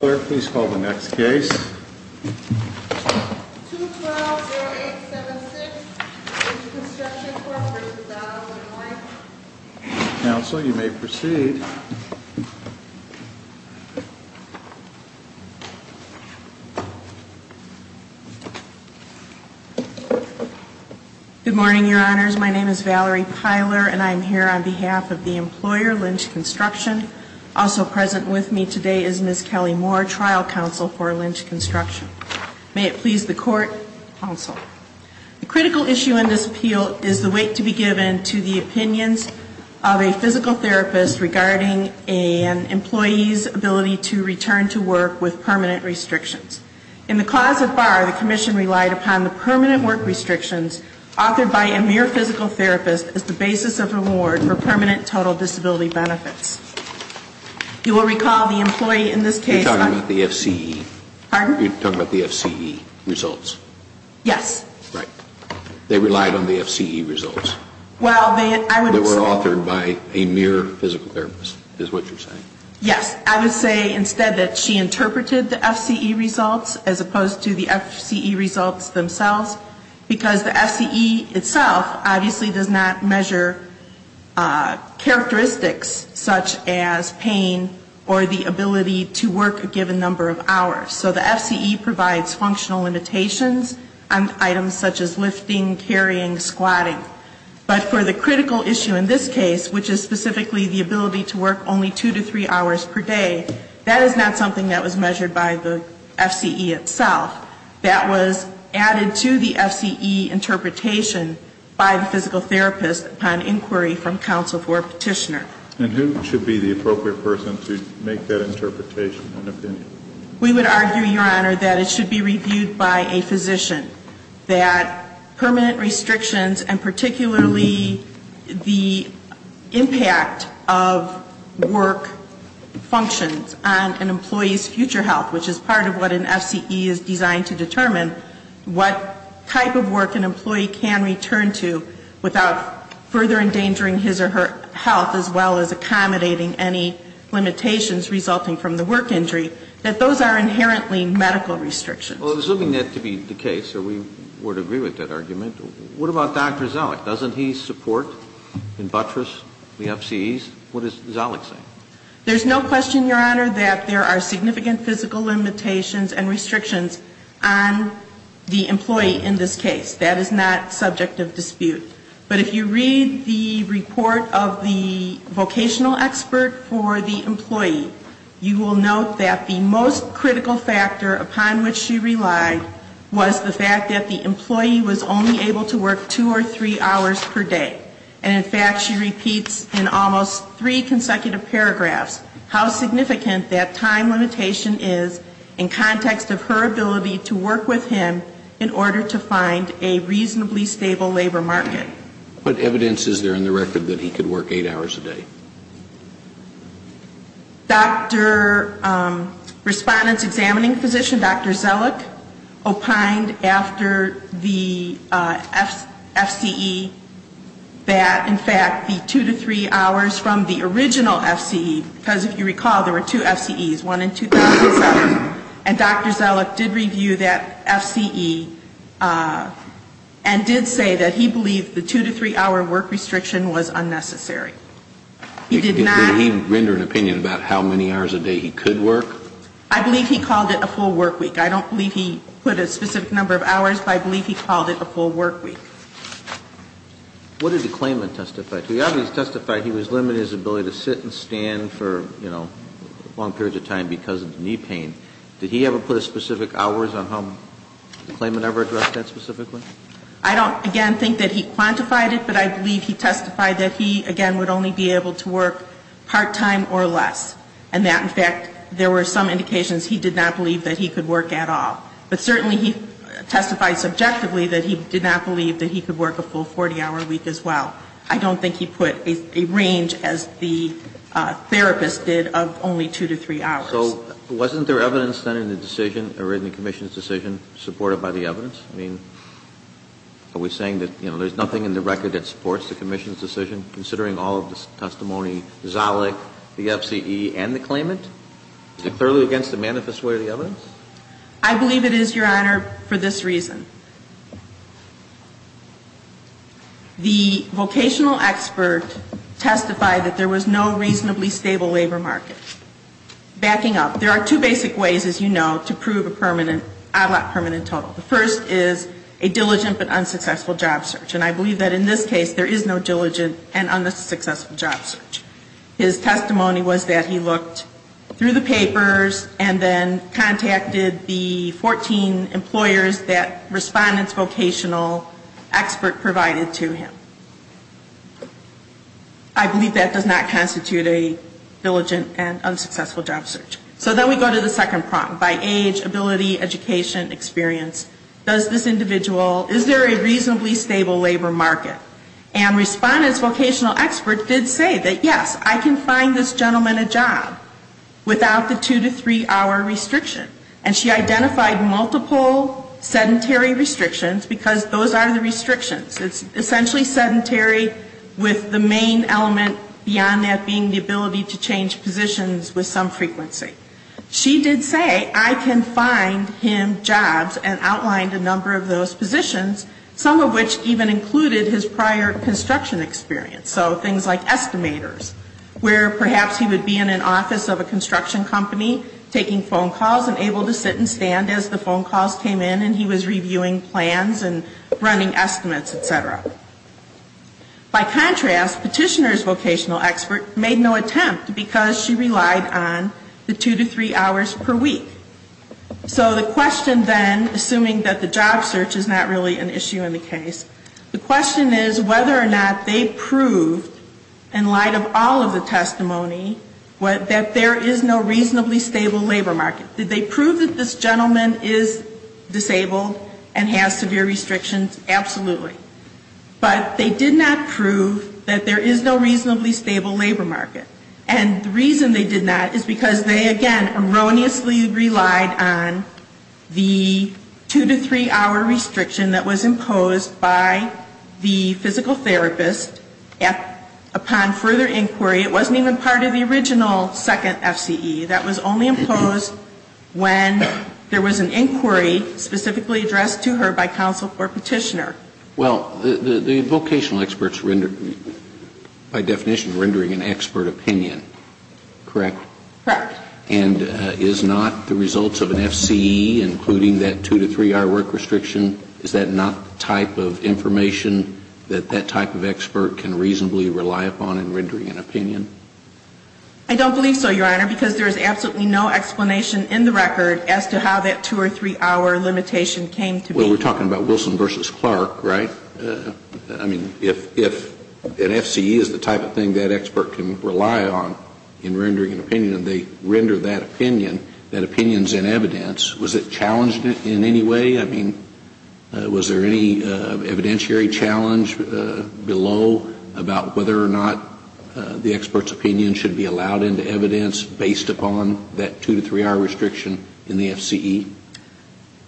Pylor, please call the next case. 212-0876, Lynch Construction Corp. v. Dallas, Illinois. Counsel, you may proceed. Good morning, Your Honors. My name is Valerie Pylor, and I am here on behalf of the employer, Lynch Construction. Also present with me today is Ms. Kelly Moore, Trial Counsel for Lynch Construction. May it please the Court, Counsel. The critical issue in this appeal is the weight to be given to the opinions of a physical therapist regarding an employee's ability to return to work with permanent restrictions. In the clause so far, the Commission relied upon the permanent work restrictions authored by a mere physical therapist as the basis of reward for permanent total disability benefits. You will recall the employee in this case... You're talking about the FCE. Pardon? You're talking about the FCE results. Yes. Right. They relied on the FCE results. Well, they, I would say... They were authored by a mere physical therapist, is what you're saying. Yes. I would say instead that she interpreted the FCE results as opposed to the FCE results themselves because the FCE itself obviously does not measure characteristics such as pain or the ability to work a given number of hours. So the FCE provides functional limitations on items such as lifting, carrying, squatting. But for the critical issue in this case, which is specifically the ability to work only two to three hours per day, that is not something that was measured by the FCE itself. That was added to the FCE interpretation by the physical therapist upon inquiry from counsel for a petitioner. And who should be the appropriate person to make that interpretation and opinion? We would argue, Your Honor, that it should be reviewed by a physician, that permanent restrictions and particularly the impact of work functions on an employee's future health, which is part of what an FCE is designed to determine, what type of work an employee can return to without further endangering his or her health as well as accommodating any limitations resulting from the work injury, that those are inherently medical restrictions. Well, assuming that to be the case, or we would agree with that argument, what about Dr. Zalek? Doesn't he support and buttress the FCEs? What is Zalek saying? There's no question, Your Honor, that there are significant physical limitations and restrictions on the employee in this case. That is not subject of dispute. But if you read the report of the vocational expert for the employee, you will note that the most critical factor upon which she relied was the fact that the employee was only able to work two or three hours per day. And, in fact, she repeats in almost three consecutive paragraphs how significant that time limitation is in context of her ability to work with him in order to find a reasonably stable labor market. What evidence is there in the record that he could work eight hours a day? Dr. Respondent's examining physician, Dr. Zalek, opined after the FCE that, in fact, the two to three hours from the original FCE, because if you recall, there were two FCEs, one in 2007, and Dr. Zalek did review that FCE and did say that he believed the two to three hour work restriction was unnecessary. He did not. Did he render an opinion about how many hours a day he could work? I believe he called it a full work week. I don't believe he put a specific number of hours, but I believe he called it a full work week. What did the claimant testify to? He obviously testified he was limited in his ability to sit and stand for, you know, long periods of time because of knee pain. Did he ever put a specific hours on home? Did the claimant ever address that specifically? I don't, again, think that he quantified it, but I believe he testified that he, again, would only be able to work part-time or less, and that, in fact, there were some indications he did not believe that he could work at all. But certainly he testified subjectively that he did not believe that he could work a full 40-hour week as well. I don't think he put a range, as the therapist did, of only two to three hours. So wasn't there evidence then in the decision or in the commission's decision supported by the evidence? I mean, are we saying that, you know, there's nothing in the record that supports the commission's decision, considering all of the testimony, Zollick, the FCE, and the claimant? Is it clearly against the manifest way of the evidence? I believe it is, Your Honor, for this reason. The vocational expert testified that there was no reasonably stable labor market. Backing up, there are two basic ways, as you know, to prove a permanent odd lot permanent total. The first is a diligent but unsuccessful job search. And I believe that in this case there is no diligent and unsuccessful job search. His testimony was that he looked through the papers and then contacted the 14 employers that respondent's vocational expert provided to him. I believe that does not constitute a diligent and unsuccessful job search. So then we go to the second prong, by age, ability, education, experience. Does this individual, is there a reasonably stable labor market? And respondent's vocational expert did say that, yes, I can find this gentleman a job without the two to three hour restriction. And she identified multiple sedentary restrictions, because those are the restrictions. It's essentially sedentary, with the main element beyond that being the ability to change positions with some frequency. She did say, I can find him jobs, and outlined a number of those positions, some of which even included his prior construction experience. So things like estimators, where perhaps he would be in an office of a construction company, taking phone calls, and able to sit and stand as the phone calls came in, and he was reviewing plans and running estimates, et cetera. By contrast, petitioner's vocational expert made no attempt, because she relied on the two to three hours per week. So the question then, assuming that the job search is not really an issue in the case, the question is whether or not they proved, in light of all of the testimony, that there is no reasonably stable labor market. Did they prove that this gentleman is disabled and has severe restrictions? Absolutely. But they did not prove that there is no reasonably stable labor market. And the reason they did not is because they, again, erroneously relied on the two to three hour restriction that was imposed by the physical When there was an inquiry specifically addressed to her by counsel or petitioner. Well, the vocational experts rendered, by definition, rendering an expert opinion, correct? Correct. And is not the results of an FCE, including that two to three hour work restriction, is that not the type of information that that type of expert can reasonably rely upon in rendering an opinion? I don't believe so, Your Honor, because there is absolutely no explanation in the record as to how that two or three hour limitation came to be. Well, we're talking about Wilson v. Clark, right? I mean, if an FCE is the type of thing that expert can rely on in rendering an opinion, and they render that opinion, that opinion is in evidence, was it challenged in any way? I mean, was there any evidentiary challenge below about whether or not the expert's opinion should be allowed into evidence based upon that two to three hour restriction in the FCE?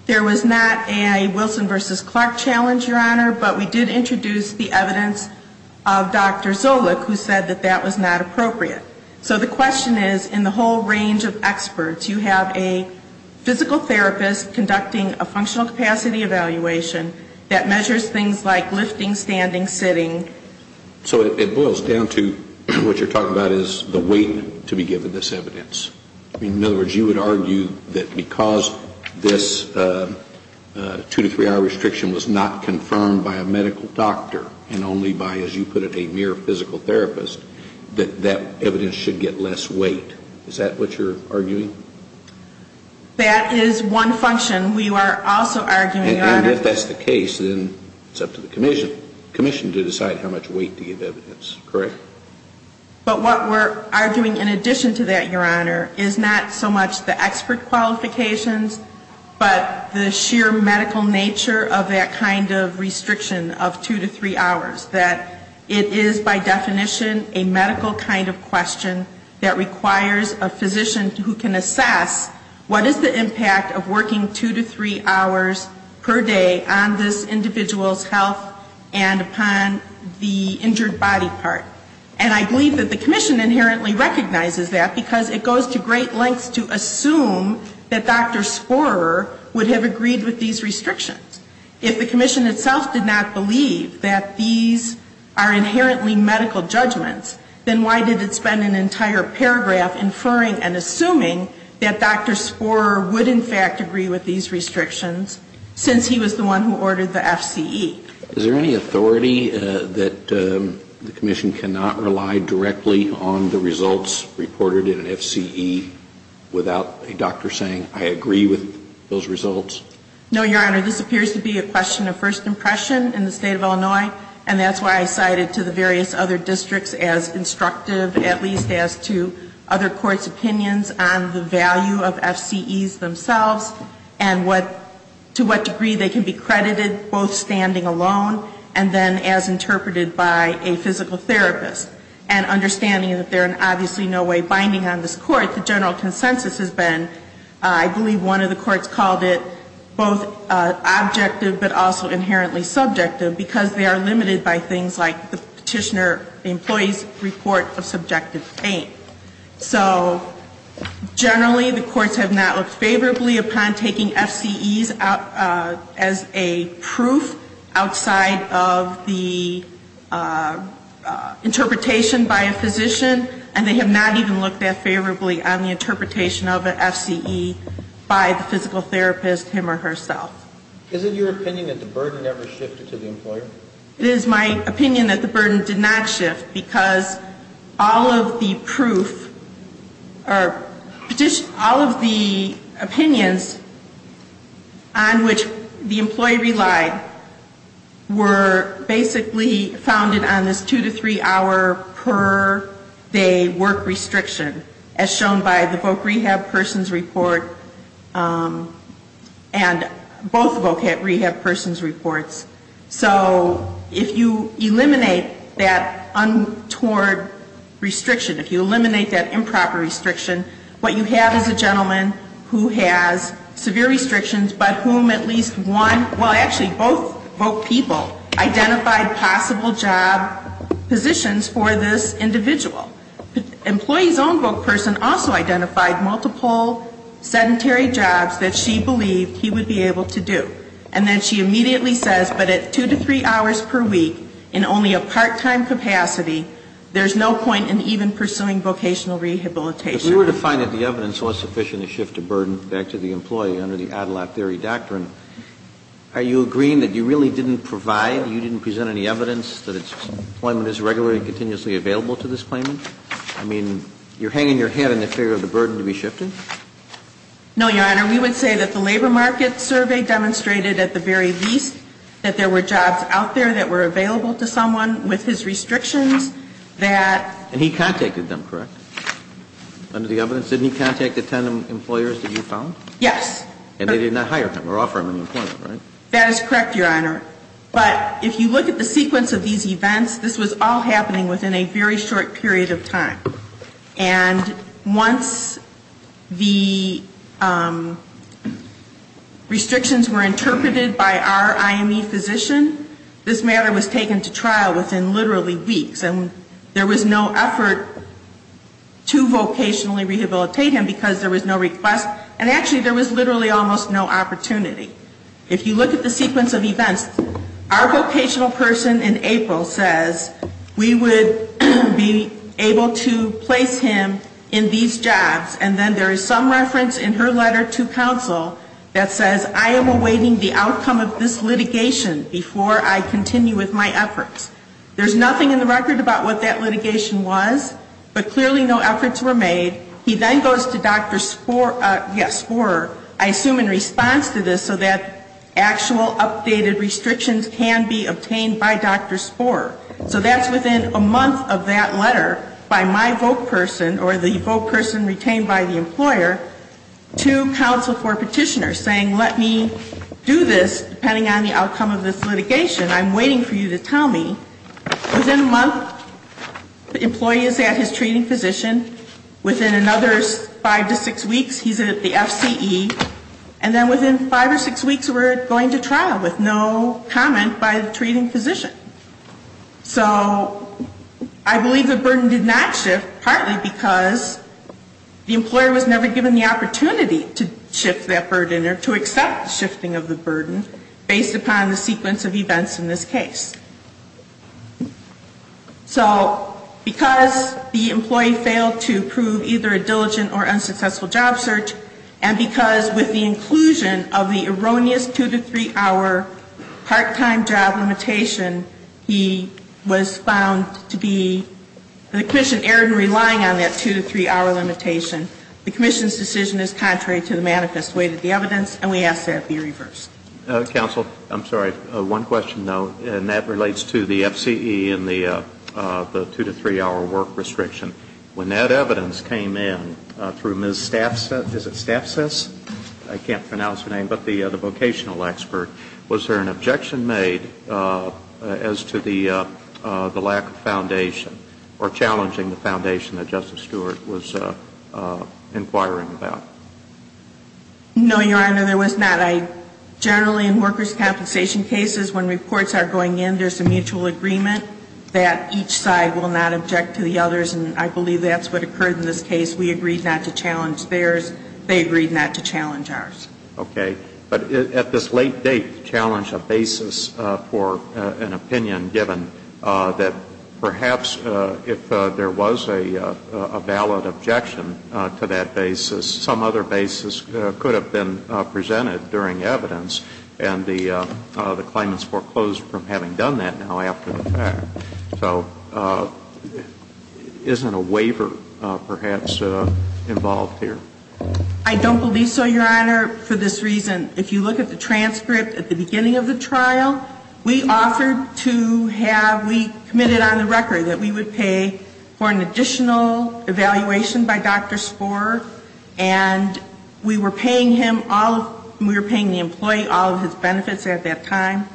There was not a Wilson v. Clark challenge, Your Honor, but we did introduce the evidence of Dr. Zolich, who said that that was not appropriate. So the question is, in the whole range of experts, you have a physical therapist conducting a functional capacity evaluation that measures things like lifting, standing, sitting. So it boils down to what you're talking about is the weight to be given this evidence. In other words, you would argue that because this two to three hour restriction was not confirmed by a medical doctor, and only by, as you put it, a mere physical therapist, that that evidence should get less weight. Is that what you're arguing? That is one function. We are also arguing, Your Honor. And if that's the case, then it's up to the commission to decide how much weight to give evidence, correct? But what we're arguing in addition to that, Your Honor, is not so much the expert qualifications, but the sheer medical nature of that kind of restriction of two to three hours. That it is by definition a medical kind of question that requires a physician who can assess what is the impact of working two to three hours per day on this individual's health and upon the injured body part. And I believe that the commission inherently recognizes that because it goes to great lengths to assume that Dr. Sporrer would have agreed with these restrictions. If the commission itself did not believe that these are inherently medical judgments, then why did it spend an entire paragraph inferring and assuming that Dr. Sporrer would in fact agree with these restrictions since he was the one who ordered the FCE? Is there any authority that the commission cannot rely directly on the results reported in an FCE without a doctor saying, I agree with those results? No, Your Honor. This appears to be a question of first impression in the State of Illinois. And that's why I cited to the various other districts as instructive, at least as to other courts' opinions on the value of FCEs themselves and to what degree they can be credited both standing alone and then as interpreted by a physical therapist. And understanding that there is obviously no way binding on this Court, the general consensus has been, I believe one of the courts called it both objective but also inherently subjective because they are limited by things like the petitioner, the employee's report of subjective pain. So generally, the courts have not looked favorably upon taking FCEs as a proof outside of the interpretation by a physician, and they have not even looked that favorably on the interpretation of an FCE by the physical therapist, him or herself. Is it your opinion that the burden never shifted to the employer? It is my opinion that the burden did not shift because all of the proof or petition, all of the opinions on which the employee relied were basically founded on this two to three hour per day work restriction as shown by the voc rehab person's report and both voc rehab person's reports. So if you eliminate that untoward restriction, if you eliminate that improper restriction, what you have is a gentleman who has severe restrictions but whom at least one, well, actually both voc people identified possible job positions for this individual. The employee's own voc person also identified multiple sedentary jobs that she believed he would be able to do. And then she immediately says, but at two to three hours per week in only a part-time capacity, there's no point in even pursuing vocational rehabilitation. If we were to find that the evidence was sufficient to shift the burden back to the employee under the Adelaide theory doctrine, are you agreeing that you really didn't provide, you didn't present any evidence that employment is regularly and continuously available to this claimant? I mean, you're hanging your head in the fear of the burden to be shifted? No, Your Honor. We would say that the labor market survey demonstrated at the very least that there were jobs out there that were available to someone with his restrictions that... And he contacted them, correct? Under the evidence? Didn't he contact the ten employers that you found? Yes. And they did not hire him or offer him an employment, right? That is correct, Your Honor. But if you look at the sequence of these events, this was all happening within a very short period of time. And once the restrictions were interpreted by our IME physician, this matter was taken to trial within literally weeks. And there was no effort to vocationally rehabilitate him because there was no request. And actually, there was literally almost no opportunity. If you look at the sequence of events, our vocational person in April says, we would be able to place him in these jobs. And then there is some reference in her letter to counsel that says, I am awaiting the outcome of this litigation before I continue with my efforts. There's nothing in the record about what that litigation was, but clearly no efforts were made. He then goes to Dr. Sporer, I assume in response to this, so that actual updated restrictions can be obtained by Dr. Sporer. So that's within a month of that letter by my voc person or the voc person retained by the employer to counsel for petitioners saying, let me do this depending on the outcome of this litigation. I'm waiting for you to tell me. Within a month, the employee is at his treating physician. Within another five to six weeks, he's at the FCE. And then within five or six weeks, we're going to trial with no comment by the treating physician. So I believe the burden did not shift partly because the employer was never given the opportunity to shift that burden or to accept shifting of the burden based upon the sequence of events in this case. So because the employee failed to prove either a diligent or unsuccessful job search and because with the inclusion of the erroneous two to three-hour part-time job limitation, he was found to be, the commission erred in relying on that two to three-hour limitation. The commission's decision is contrary to the manifest way that the evidence, and we ask that it be reversed. Counsel, I'm sorry. One question, though, and that relates to the FCE and the two to three-hour work restriction. When that evidence came in through Ms. Staffs, is it Staffsess? I can't pronounce her name, but the vocational expert, was there an objection made as to the lack of foundation or challenging the foundation that Justice Stewart was inquiring about? No, Your Honor, there was not. I generally, in workers' compensation cases, when reports are going in, there's a mutual agreement that each side will not object to the others, and I believe that's what occurred in this case. We agreed not to challenge theirs. They agreed not to challenge ours. Okay. But at this late date, to challenge a basis for an opinion given that perhaps if there was a valid objection to that basis, some other basis could have been presented during evidence, and the claimants foreclosed from having done that now after the fact. So isn't a waiver perhaps involved here? I don't believe so, Your Honor, for this reason. If you look at the transcript at the beginning of the trial, we offered to have, we committed on the record that we would pay for an additional evaluation by Dr. Spore, and we were paying him all of, we were paying the employee all of his benefits at that time.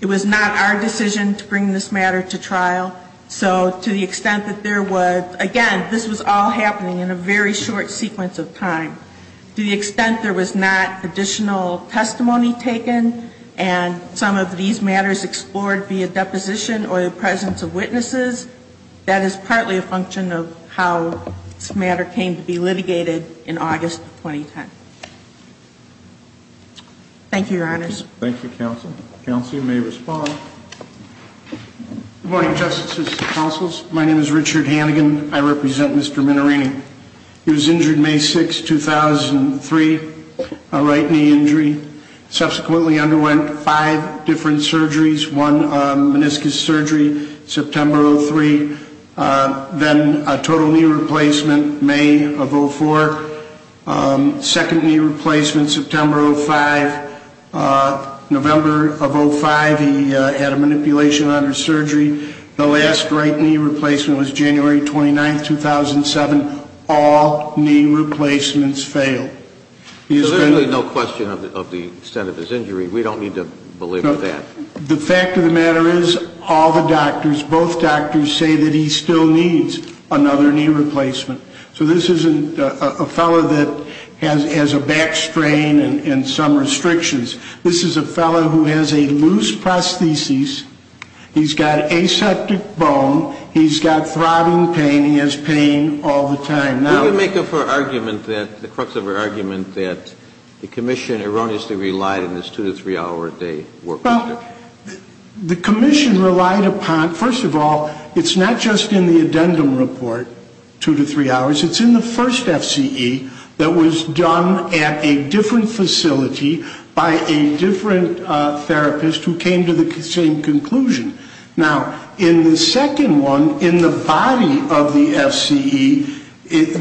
It was not our decision to bring this matter to trial. So to the extent that there was, again, this was all happening in a very short sequence of time. To the extent there was not additional testimony taken and some of these matters explored via deposition or the presence of witnesses, that is partly a function of how this matter came to be litigated in August 2010. Thank you, Your Honors. Thank you, counsel. Counsel, you may respond. Good morning, Justices and counsels. My name is Richard Hannigan. I represent Mr. Minerini. He was injured May 6, 2003, a right knee injury. Subsequently underwent five different surgeries, one meniscus surgery September 03, then a total knee replacement May of 04, second knee replacement September 05, November of 05. He had a manipulation under surgery. The last right knee replacement was January 29, 2007. All knee replacements failed. So there's really no question of the extent of his injury. We don't need to believe that. The fact of the matter is all the doctors, both doctors say that he still needs another knee replacement. So this isn't a fellow that has a back strain and some restrictions. This is a fellow who has a loose prosthesis. He's got aseptic bone. He's got throbbing pain. He has pain all the time. Now we make up our argument that, the crux of our argument, that the commission erroneously relied on this two to three hour a day work. Well, the commission relied upon, first of all, it's not just in the addendum report, two to three hours. It's in the first FCE that was done at a different facility by a different therapist who came to the same conclusion. Now, in the second one, in the body of the FCE,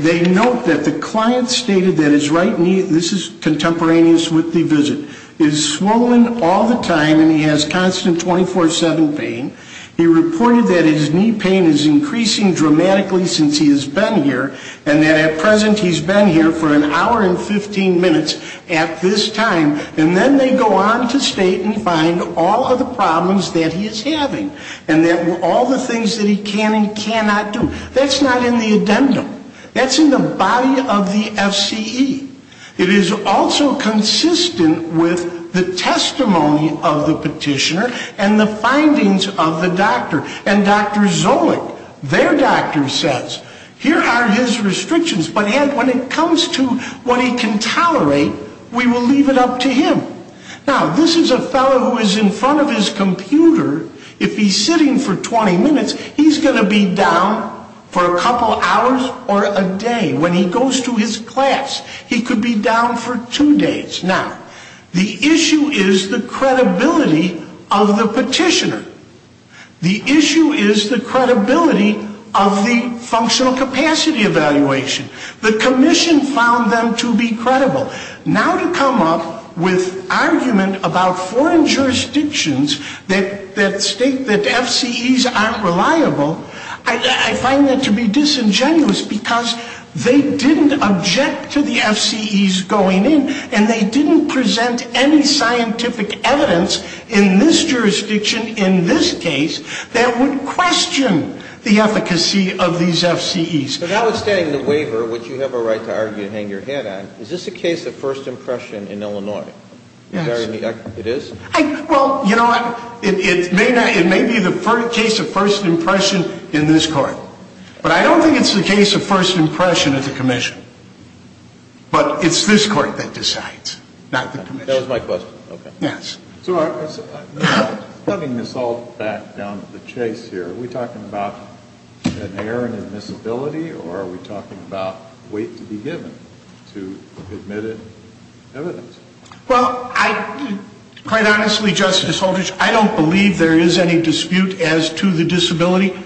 they note that the client stated that his right knee, this is contemporaneous with the visit, is swollen all the time and he has constant 24-7 pain. He reported that his knee pain is increasing dramatically since he has been here and that at present he's been here for an hour and 15 minutes at this time. And then they go on to state and find all of the problems that he is having and that all the things that he can and cannot do. That's not in the addendum. That's in the body of the FCE. It is also consistent with the testimony of the petitioner and the findings of the doctor. And Dr. Zoellick, their doctor, says here are his restrictions, but when it comes to what he can tolerate, we will leave it up to him. Now, this is a fellow who is in front of his computer. If he's sitting for 20 minutes, he's going to be down for a couple hours or a day. When he goes to his class, he could be down for two days. Now, the issue is the credibility of the petitioner. The issue is the credibility of the functional capacity evaluation. The commission found them to be credible. Now to come up with argument about foreign jurisdictions that state that FCEs aren't reliable, I find that to be disingenuous because they didn't object to the FCEs going in and they didn't present any scientific evidence in this jurisdiction, in this case, that would question the efficacy of these FCEs. But notwithstanding the waiver, which you have a right to argue and hang your head on, is this a case of first impression in Illinois? Yes. It is? Well, you know what? It may be the case of first impression in this Court. But I don't think it's the case of first impression at the commission. But it's this Court that decides, not the commission. That was my question. Okay. Yes. Let me miss all that down to the chase here. Are we talking about an error in admissibility or are we talking about weight to be given to admitted evidence? Well, quite honestly, Justice Holder, I don't believe there is any dispute as to the disability.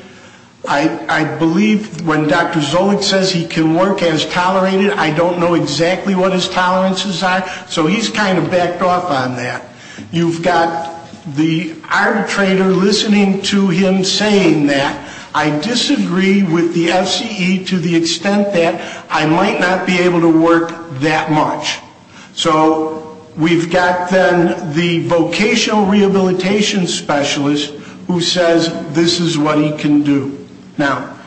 I believe when Dr. Zolich says he can work as tolerated, I don't know exactly what his tolerances are. So he's kind of backed off on that. You've got the arbitrator listening to him saying that. I disagree with the FCE to the extent that I might not be able to work that much. So we've got then the vocational rehabilitation specialist who says this is what he can do. Now,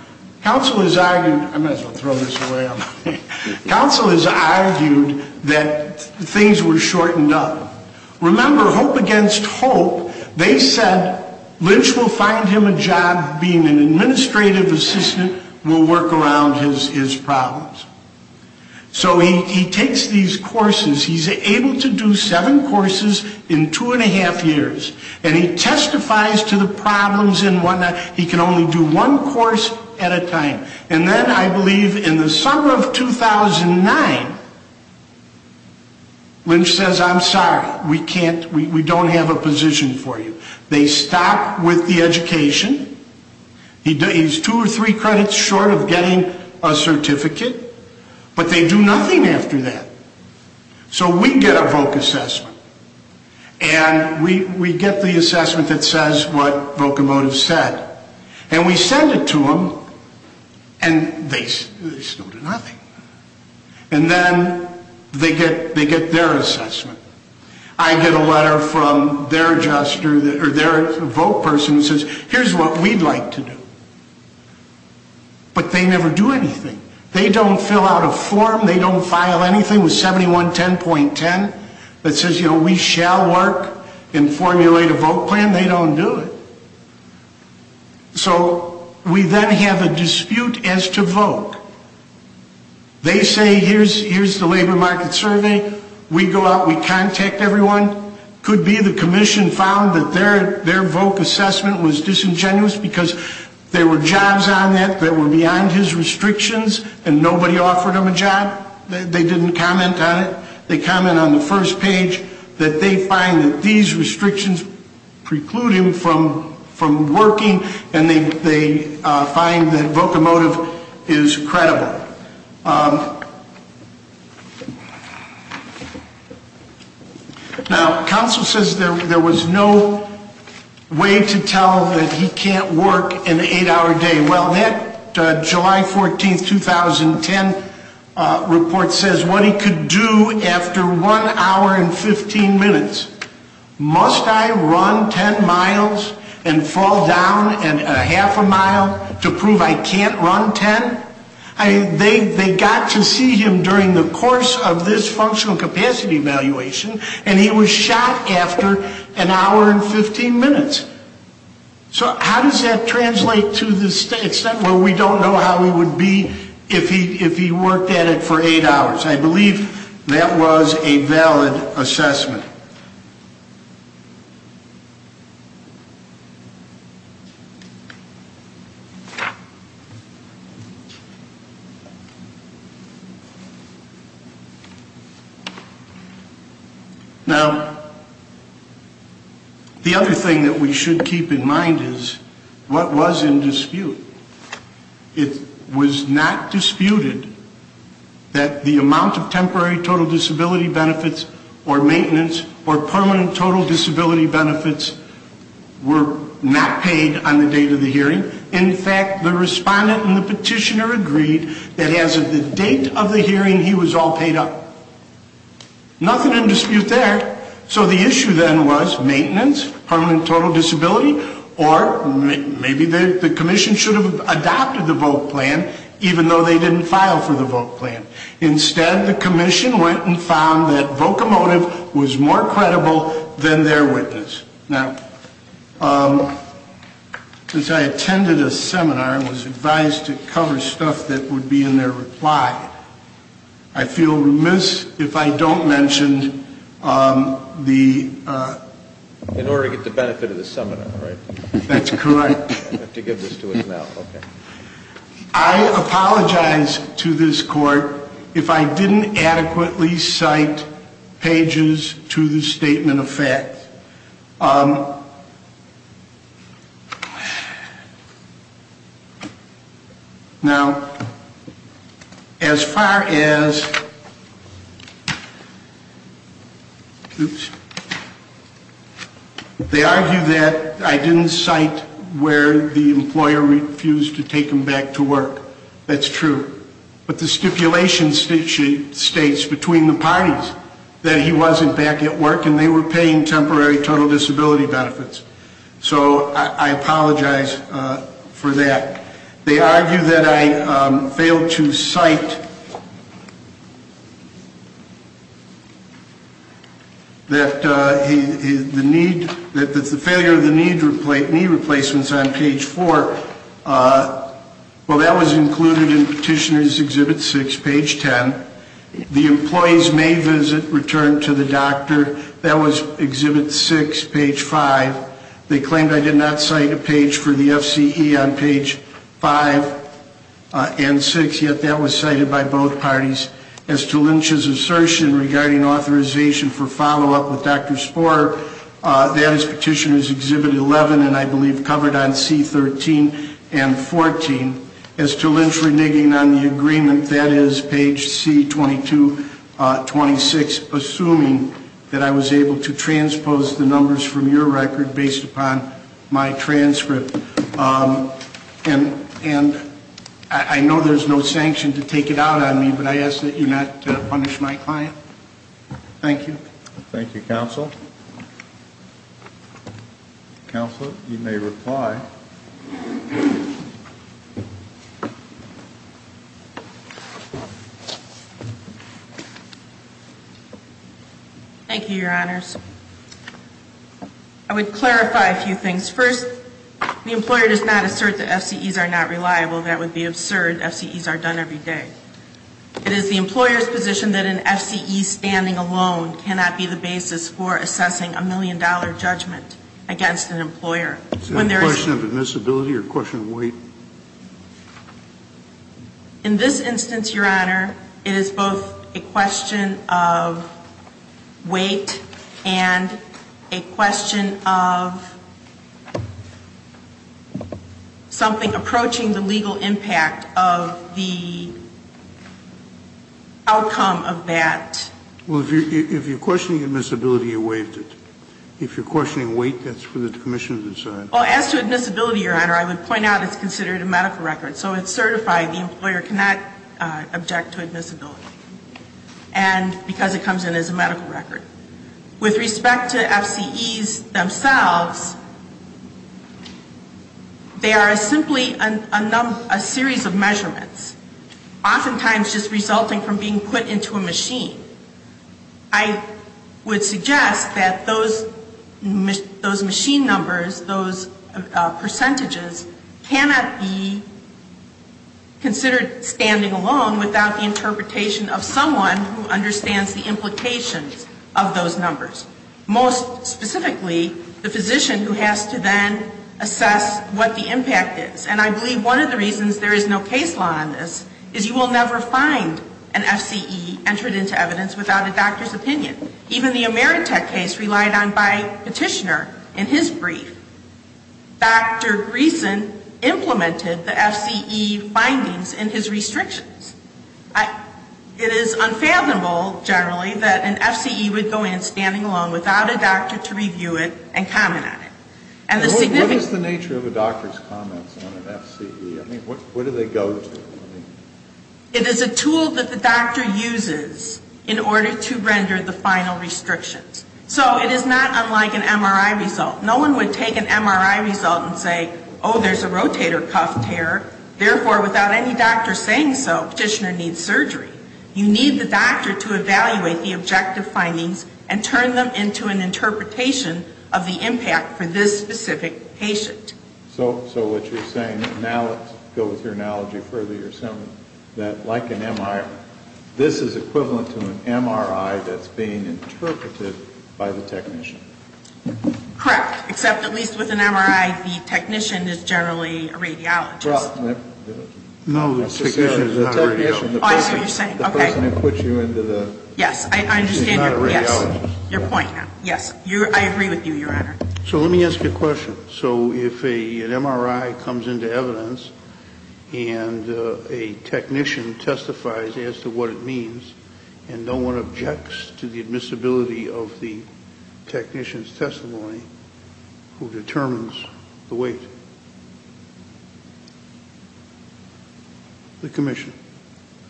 counsel has argued that things were shortened up. Remember, hope against hope, they said Lynch will find him a job being an administrative assistant. We'll work around his problems. So he takes these courses. He's able to do seven courses in two and a half years. And he testifies to the problems and whatnot. He can only do one course at a time. And then I believe in the summer of 2009, Lynch says, I'm sorry, we don't have a position for you. They stop with the education. He's two or three credits short of getting a certificate. But they do nothing after that. So we get a voc assessment. And we get the assessment that says what vocimotive said. And we send it to them. And they still do nothing. And then they get their assessment. I get a letter from their adjuster or their voc person who says here's what we'd like to do. But they never do anything. They don't fill out a form. They don't file anything with 7110.10 that says, you know, we shall work and formulate a voc plan. They don't do it. So we then have a dispute as to voc. They say here's the labor market survey. We go out. We contact everyone. Could be the commission found that their voc assessment was disingenuous because there were jobs on that that were beyond his restrictions. And nobody offered him a job. They didn't comment on it. They comment on the first page that they find that these restrictions preclude him from working. And they find that vocimotive is credible. Now, counsel says there was no way to tell that he can't work an eight-hour day. Well, that July 14th, 2010 report says what he could do after one hour and 15 minutes. Must I run 10 miles and fall down a half a mile to prove I can't run 10? They got to see him during the course of this functional capacity evaluation, and he was shot after an hour and 15 minutes. So how does that translate to the extent where we don't know how he would be if he worked at it for eight hours? I believe that was a valid assessment. Now, the other thing that we should keep in mind is what was in dispute. It was not disputed that the amount of temporary total disability benefits or maintenance or permanent total disability benefits were not paid on the date of the hearing. In fact, the respondent and the petitioner agreed that as of the date of the hearing, he was all paid up. Nothing in dispute there. So the issue then was maintenance, permanent total disability, or maybe the commission should have adopted the vote plan even though they didn't file for the vote plan. Instead, the commission went and found that Vocomotive was more credible than their witness. Now, as I attended a seminar and was advised to cover stuff that would be in their reply, I feel remiss if I don't mention the- In order to get the benefit of the seminar, right? That's correct. I have to give this to him now, okay. I apologize to this Court if I didn't adequately cite pages to the statement of facts. Now, as far as- They argue that I didn't cite where the employer refused to take him back to work. That's true. But the stipulation states between the parties that he wasn't back at work and they were paying temporary total disability benefits. So I apologize for that. They argue that I failed to cite that the failure of the knee replacements on page 4. Well, that was included in Petitioner's Exhibit 6, page 10. The employees may visit, return to the doctor. That was Exhibit 6, page 5. They claimed I did not cite a page for the FCE on page 5 and 6, yet that was cited by both parties. As to Lynch's assertion regarding authorization for follow-up with Dr. Sporer, that is Petitioner's Exhibit 11 and I believe covered on C-13 and 14. As to Lynch reneging on the agreement, that is page C-2226, assuming that I was able to transpose the numbers from your record based upon my transcript. And I know there's no sanction to take it out on me, but I ask that you not punish my client. Thank you. Thank you, Counsel. Counsel, you may reply. Thank you, Your Honors. I would clarify a few things. First, the employer does not assert that FCEs are not reliable. That would be absurd. FCEs are done every day. It is the employer's position that an FCE standing alone cannot be the basis for assessing a million-dollar judgment against an employer. Is that a question of admissibility or a question of weight? In this instance, Your Honor, it is both a question of weight and a question of something approaching the legal impact of the outcome of that. Well, if you're questioning admissibility, you waived it. If you're questioning weight, that's for the commission to decide. Well, as to admissibility, Your Honor, I would point out it's considered a medical record. So it's certified. The employer cannot object to admissibility because it comes in as a medical record. With respect to FCEs themselves, they are simply a series of measurements, oftentimes just resulting from being put into a machine. I would suggest that those machine numbers, those percentages, cannot be considered standing alone without the interpretation of someone who understands the implications of those numbers, most specifically the physician who has to then assess what the impact is. And I believe one of the reasons there is no case law on this is you will never find an FCE entered into evidence without a doctor's opinion. Even the Ameritech case relied on by petitioner in his brief, Dr. Greeson implemented the FCE findings in his restrictions. It is unfathomable, generally, that an FCE would go in standing alone without a doctor to review it and comment on it. And the significance of it is the nature of a doctor's comments on an FCE. I mean, what do they go to? It is a tool that the doctor uses in order to render the final restrictions. So it is not unlike an MRI result. No one would take an MRI result and say, oh, there's a rotator cuff tear. Therefore, without any doctor saying so, petitioner needs surgery. You need the doctor to evaluate the objective findings and turn them into an interpretation of the impact for this specific patient. So what you're saying, now let's go with your analogy further. You're saying that like an MRI, this is equivalent to an MRI that's being interpreted by the technician. Correct. Except at least with an MRI, the technician is generally a radiologist. No, the technician is not a radiologist. Oh, I see what you're saying. Okay. The person who puts you into the... Yes, I understand. ...is not a radiologist. Yes, your point. Yes. I agree with you, Your Honor. So let me ask you a question. So if an MRI comes into evidence and a technician testifies as to what it means, and no one objects to the admissibility of the technician's testimony who determines the weight, the commission?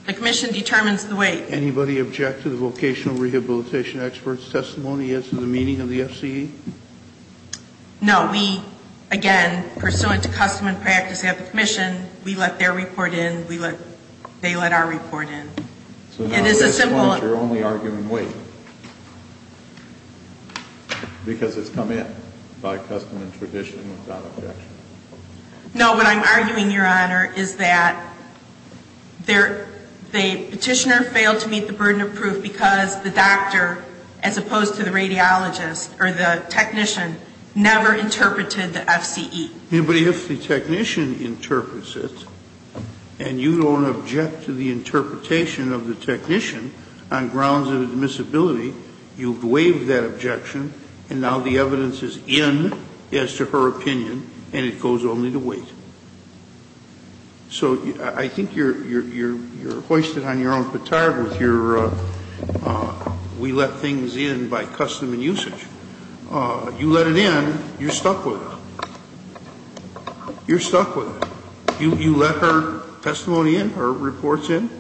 The commission determines the weight. Anybody object to the vocational rehabilitation expert's testimony as to the meaning of the FCE? No. We, again, pursuant to custom and practice at the commission, we let their report in, they let our report in. It is a simple... So now at this point you're only arguing weight because it's come in by custom and tradition without objection. No. What I'm arguing, Your Honor, is that the petitioner failed to meet the burden of proof because the doctor, as opposed to the radiologist or the technician, never interpreted the FCE. But if the technician interprets it and you don't object to the interpretation of the technician on grounds of admissibility, you waive that objection and now the evidence is in as to her opinion and it goes only to weight. So I think you're hoisted on your own petard with your we let things in by custom and usage. You let it in, you're stuck with it. You're stuck with it. You let her testimony in, her reports in?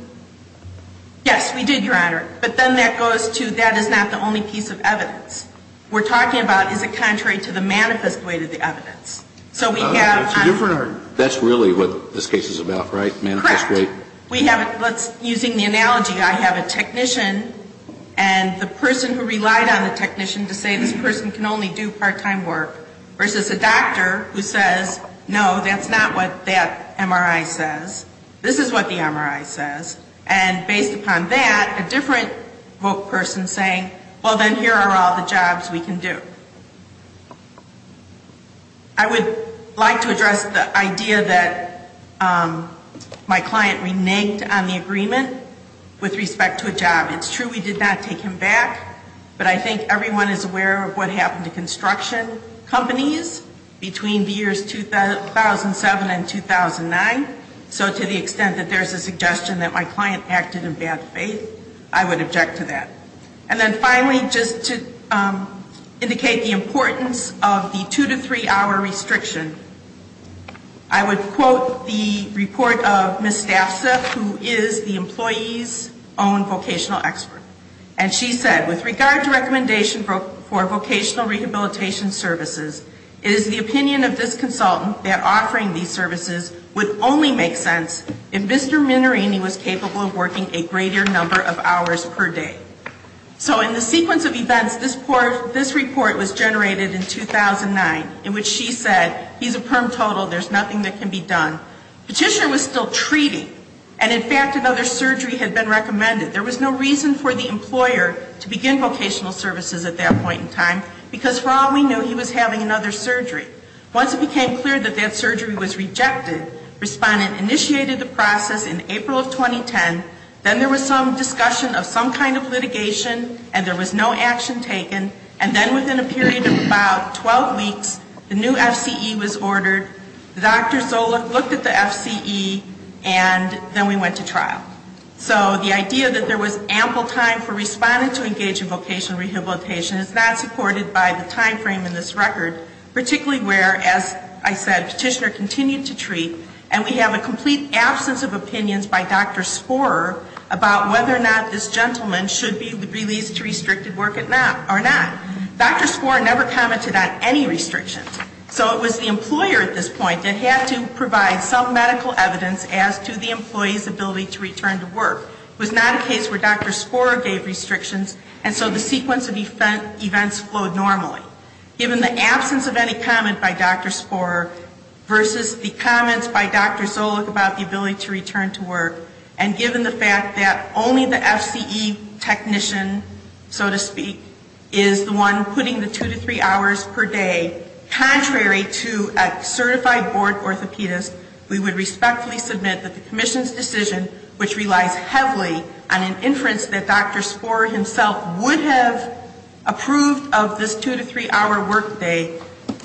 Yes, we did, Your Honor. But then that goes to that is not the only piece of evidence. We're talking about is it contrary to the manifest weight of the evidence. That's really what this case is about, right, manifest weight? Correct. Using the analogy, I have a technician and the person who relied on the technician to say this person can only do part-time work versus a doctor who says, no, that's not what that MRI says. This is what the MRI says. And based upon that, a different person saying, well, then here are all the jobs we can do. I would like to address the idea that my client reneged on the agreement with respect to a job. It's true we did not take him back, but I think everyone is aware of what happened to construction companies between the years 2007 and 2009. So to the extent that there's a suggestion that my client acted in bad faith, I would object to that. And then finally, just to indicate the importance of the two- to three-hour restriction, I would quote the report of Ms. Staffsa, who is the employee's own vocational expert. And she said, with regard to recommendation for vocational rehabilitation services, it is the opinion of this consultant that offering these services would only make sense if Mr. Minnerini was capable of working a greater number of hours per day. So in the sequence of events, this report was generated in 2009, in which she said, he's a perm total, there's nothing that can be done. Petitioner was still treating, and in fact, another surgery had been recommended. There was no reason for the employer to begin vocational services at that point in time, because for all we knew, he was having another surgery. Once it became clear that that surgery was rejected, respondent initiated the process in April of 2010. Then there was some discussion of some kind of litigation, and there was no action taken. And then within a period of about 12 weeks, the new FCE was ordered. Dr. Zola looked at the FCE, and then we went to trial. So the idea that there was ample time for respondent to engage in vocational rehabilitation is not supported by the timeframe in this record, particularly where, as I said, petitioner continued to treat, and we have a complete absence of opinions by Dr. Sporer about whether or not this gentleman should be released to restricted work or not. Dr. Sporer never commented on any restrictions. So it was the employer at this point that had to provide some medical evidence as to the employee's ability to return to work. It was not a case where Dr. Sporer gave restrictions, and so the sequence of events flowed normally. Given the absence of any comment by Dr. Sporer versus the comments by Dr. Zola about the ability to return to work, and given the fact that only the FCE technician, so to speak, is the one putting the two to three hours per day, contrary to a certified board orthopedist, we would respectfully submit that the commission's decision, which relies heavily on an inference that Dr. Sporer himself would have approved of this two to three hour work day,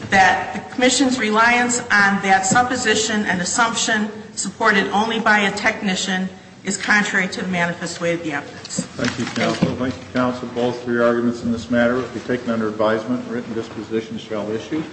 that the commission's reliance on that supposition and assumption supported only by a technician is contrary to the manifest way of the evidence. Thank you, counsel. Thank you, counsel. Both of your arguments in this matter will be taken under advisement. Written dispositions shall issue.